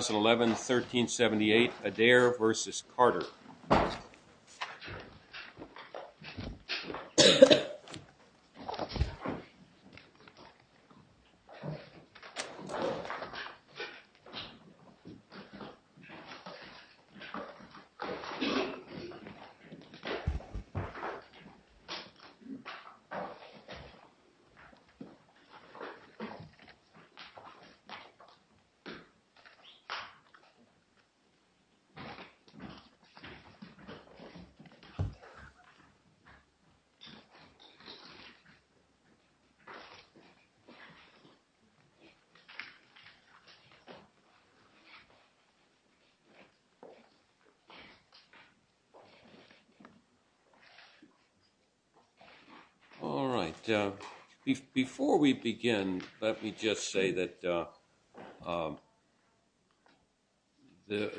2011-1378 ADAIR v. CARTER 2011-1378 ADAIR v. CARTER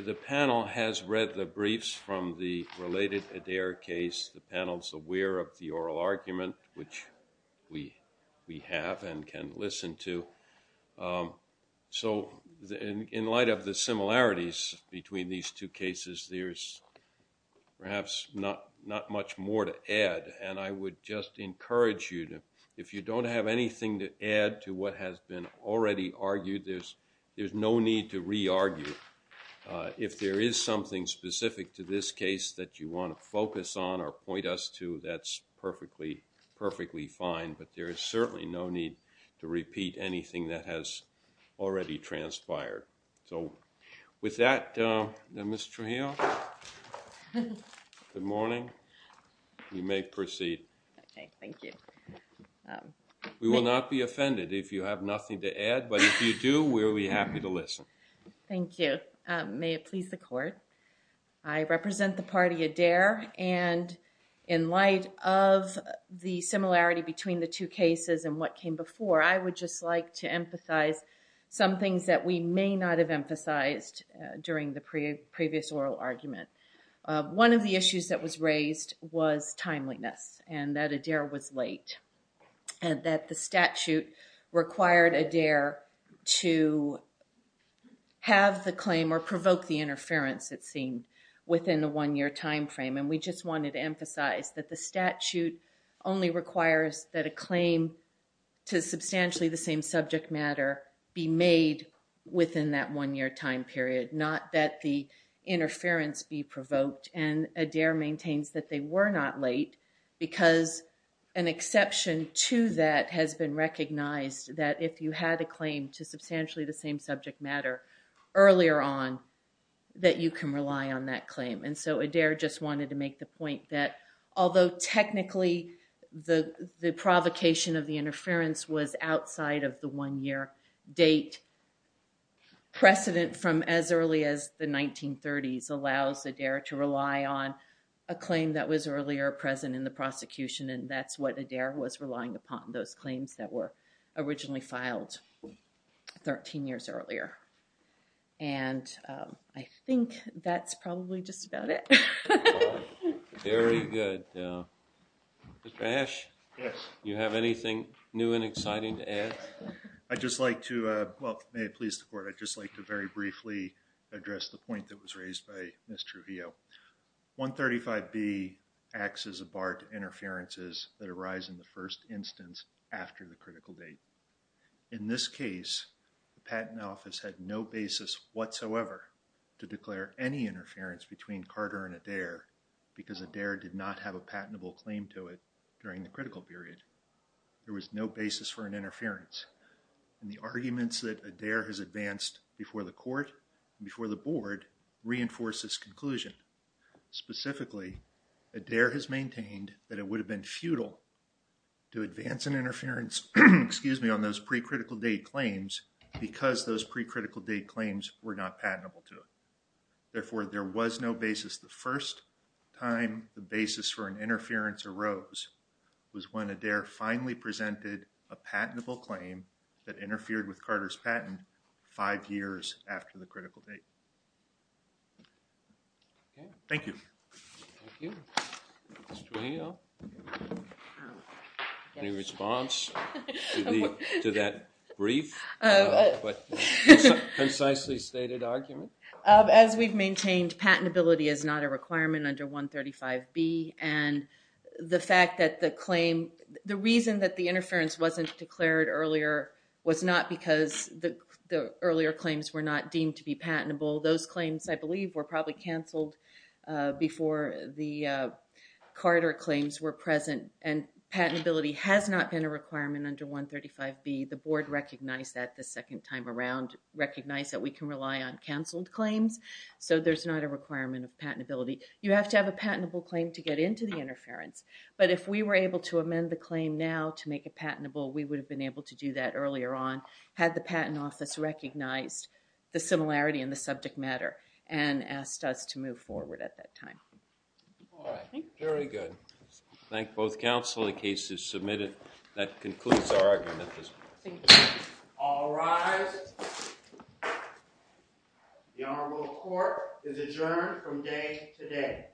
The panel has read the briefs from the related ADAIR case. The panel's aware of the oral argument, which we have and can listen to. So in light of the similarities between these two cases, there's perhaps not much more to add. And I would just encourage you, if you don't have anything to add to what has been already argued, there's no need to re-argue. If there is something specific to this case that you want to focus on or point us to, that's perfectly fine. But there is certainly no need to repeat anything that has already transpired. So with that, Ms. Trujillo, good morning. You may proceed. OK, thank you. We will not be offended if you have nothing to add. But if you do, we will be happy to listen. Thank you. May it please the Court. I represent the party ADAIR. And in light of the similarity between the two cases and what came before, I would just like to emphasize some things that we may not have emphasized during the previous oral argument. One of the issues that was raised was timeliness and that ADAIR was late and that the statute required ADAIR to have the claim or provoke the interference, it seemed, within the one-year time frame. And we just wanted to emphasize that the statute only requires that a claim to substantially the same subject matter be made within that one-year time period, not that the interference be provoked. And ADAIR maintains that they were not late because an exception to that has been recognized, that if you had a claim to substantially the same subject matter earlier on, that you can rely on that claim. And so ADAIR just wanted to make the point that although technically the provocation of the interference was outside of the one-year date, precedent from as early as the 1930s allows ADAIR to rely on a claim that was earlier present in the prosecution. And that's what ADAIR was relying upon, those claims that were originally filed 13 years earlier. And I think that's probably just about it. Very good. Ash, do you have anything new and exciting to add? I'd just like to, well, may it please the court, I'd just like to very briefly address the point that was raised by Ms. Trujillo. 135B acts as a bar to interferences that arise in the first instance after the critical date. In this case, the Patent Office had no basis whatsoever to declare any interference between Carter and ADAIR because ADAIR did not have a patentable claim to it during the critical period. There was no basis for an interference. And the arguments that ADAIR has advanced before the court and before the board reinforce this conclusion. Specifically, ADAIR has maintained that it would have been futile to advance an interference, excuse me, on those pre-critical date claims because those pre-critical date claims were not patentable to it. Therefore, there was no basis. The first time the basis for an interference arose was when ADAIR finally presented a patentable claim that interfered with Carter's patent five years after the critical date. Thank you. Thank you. Ms. Trujillo? Any response to that brief but precisely stated argument? As we've maintained, patentability is not a requirement under 135B. And the fact that the claim, the reason that the interference wasn't declared earlier was not because the earlier claims were not deemed to be patentable. Those claims, I believe, were probably canceled before the Carter claims were present. And patentability has not been a requirement under 135B. The board recognized that the second time around, recognized that we can rely on canceled claims. So there's not a requirement of patentability. You have to have a patentable claim to get into the interference. But if we were able to amend the claim now to make it patentable, we would have been able to do that earlier on had the patent office recognized the similarity in the subject matter and asked us to move forward at that time. Very good. Thank both counsel. The case is submitted. That concludes our argument at this point. All rise. The Honorable Court is adjourned from day today.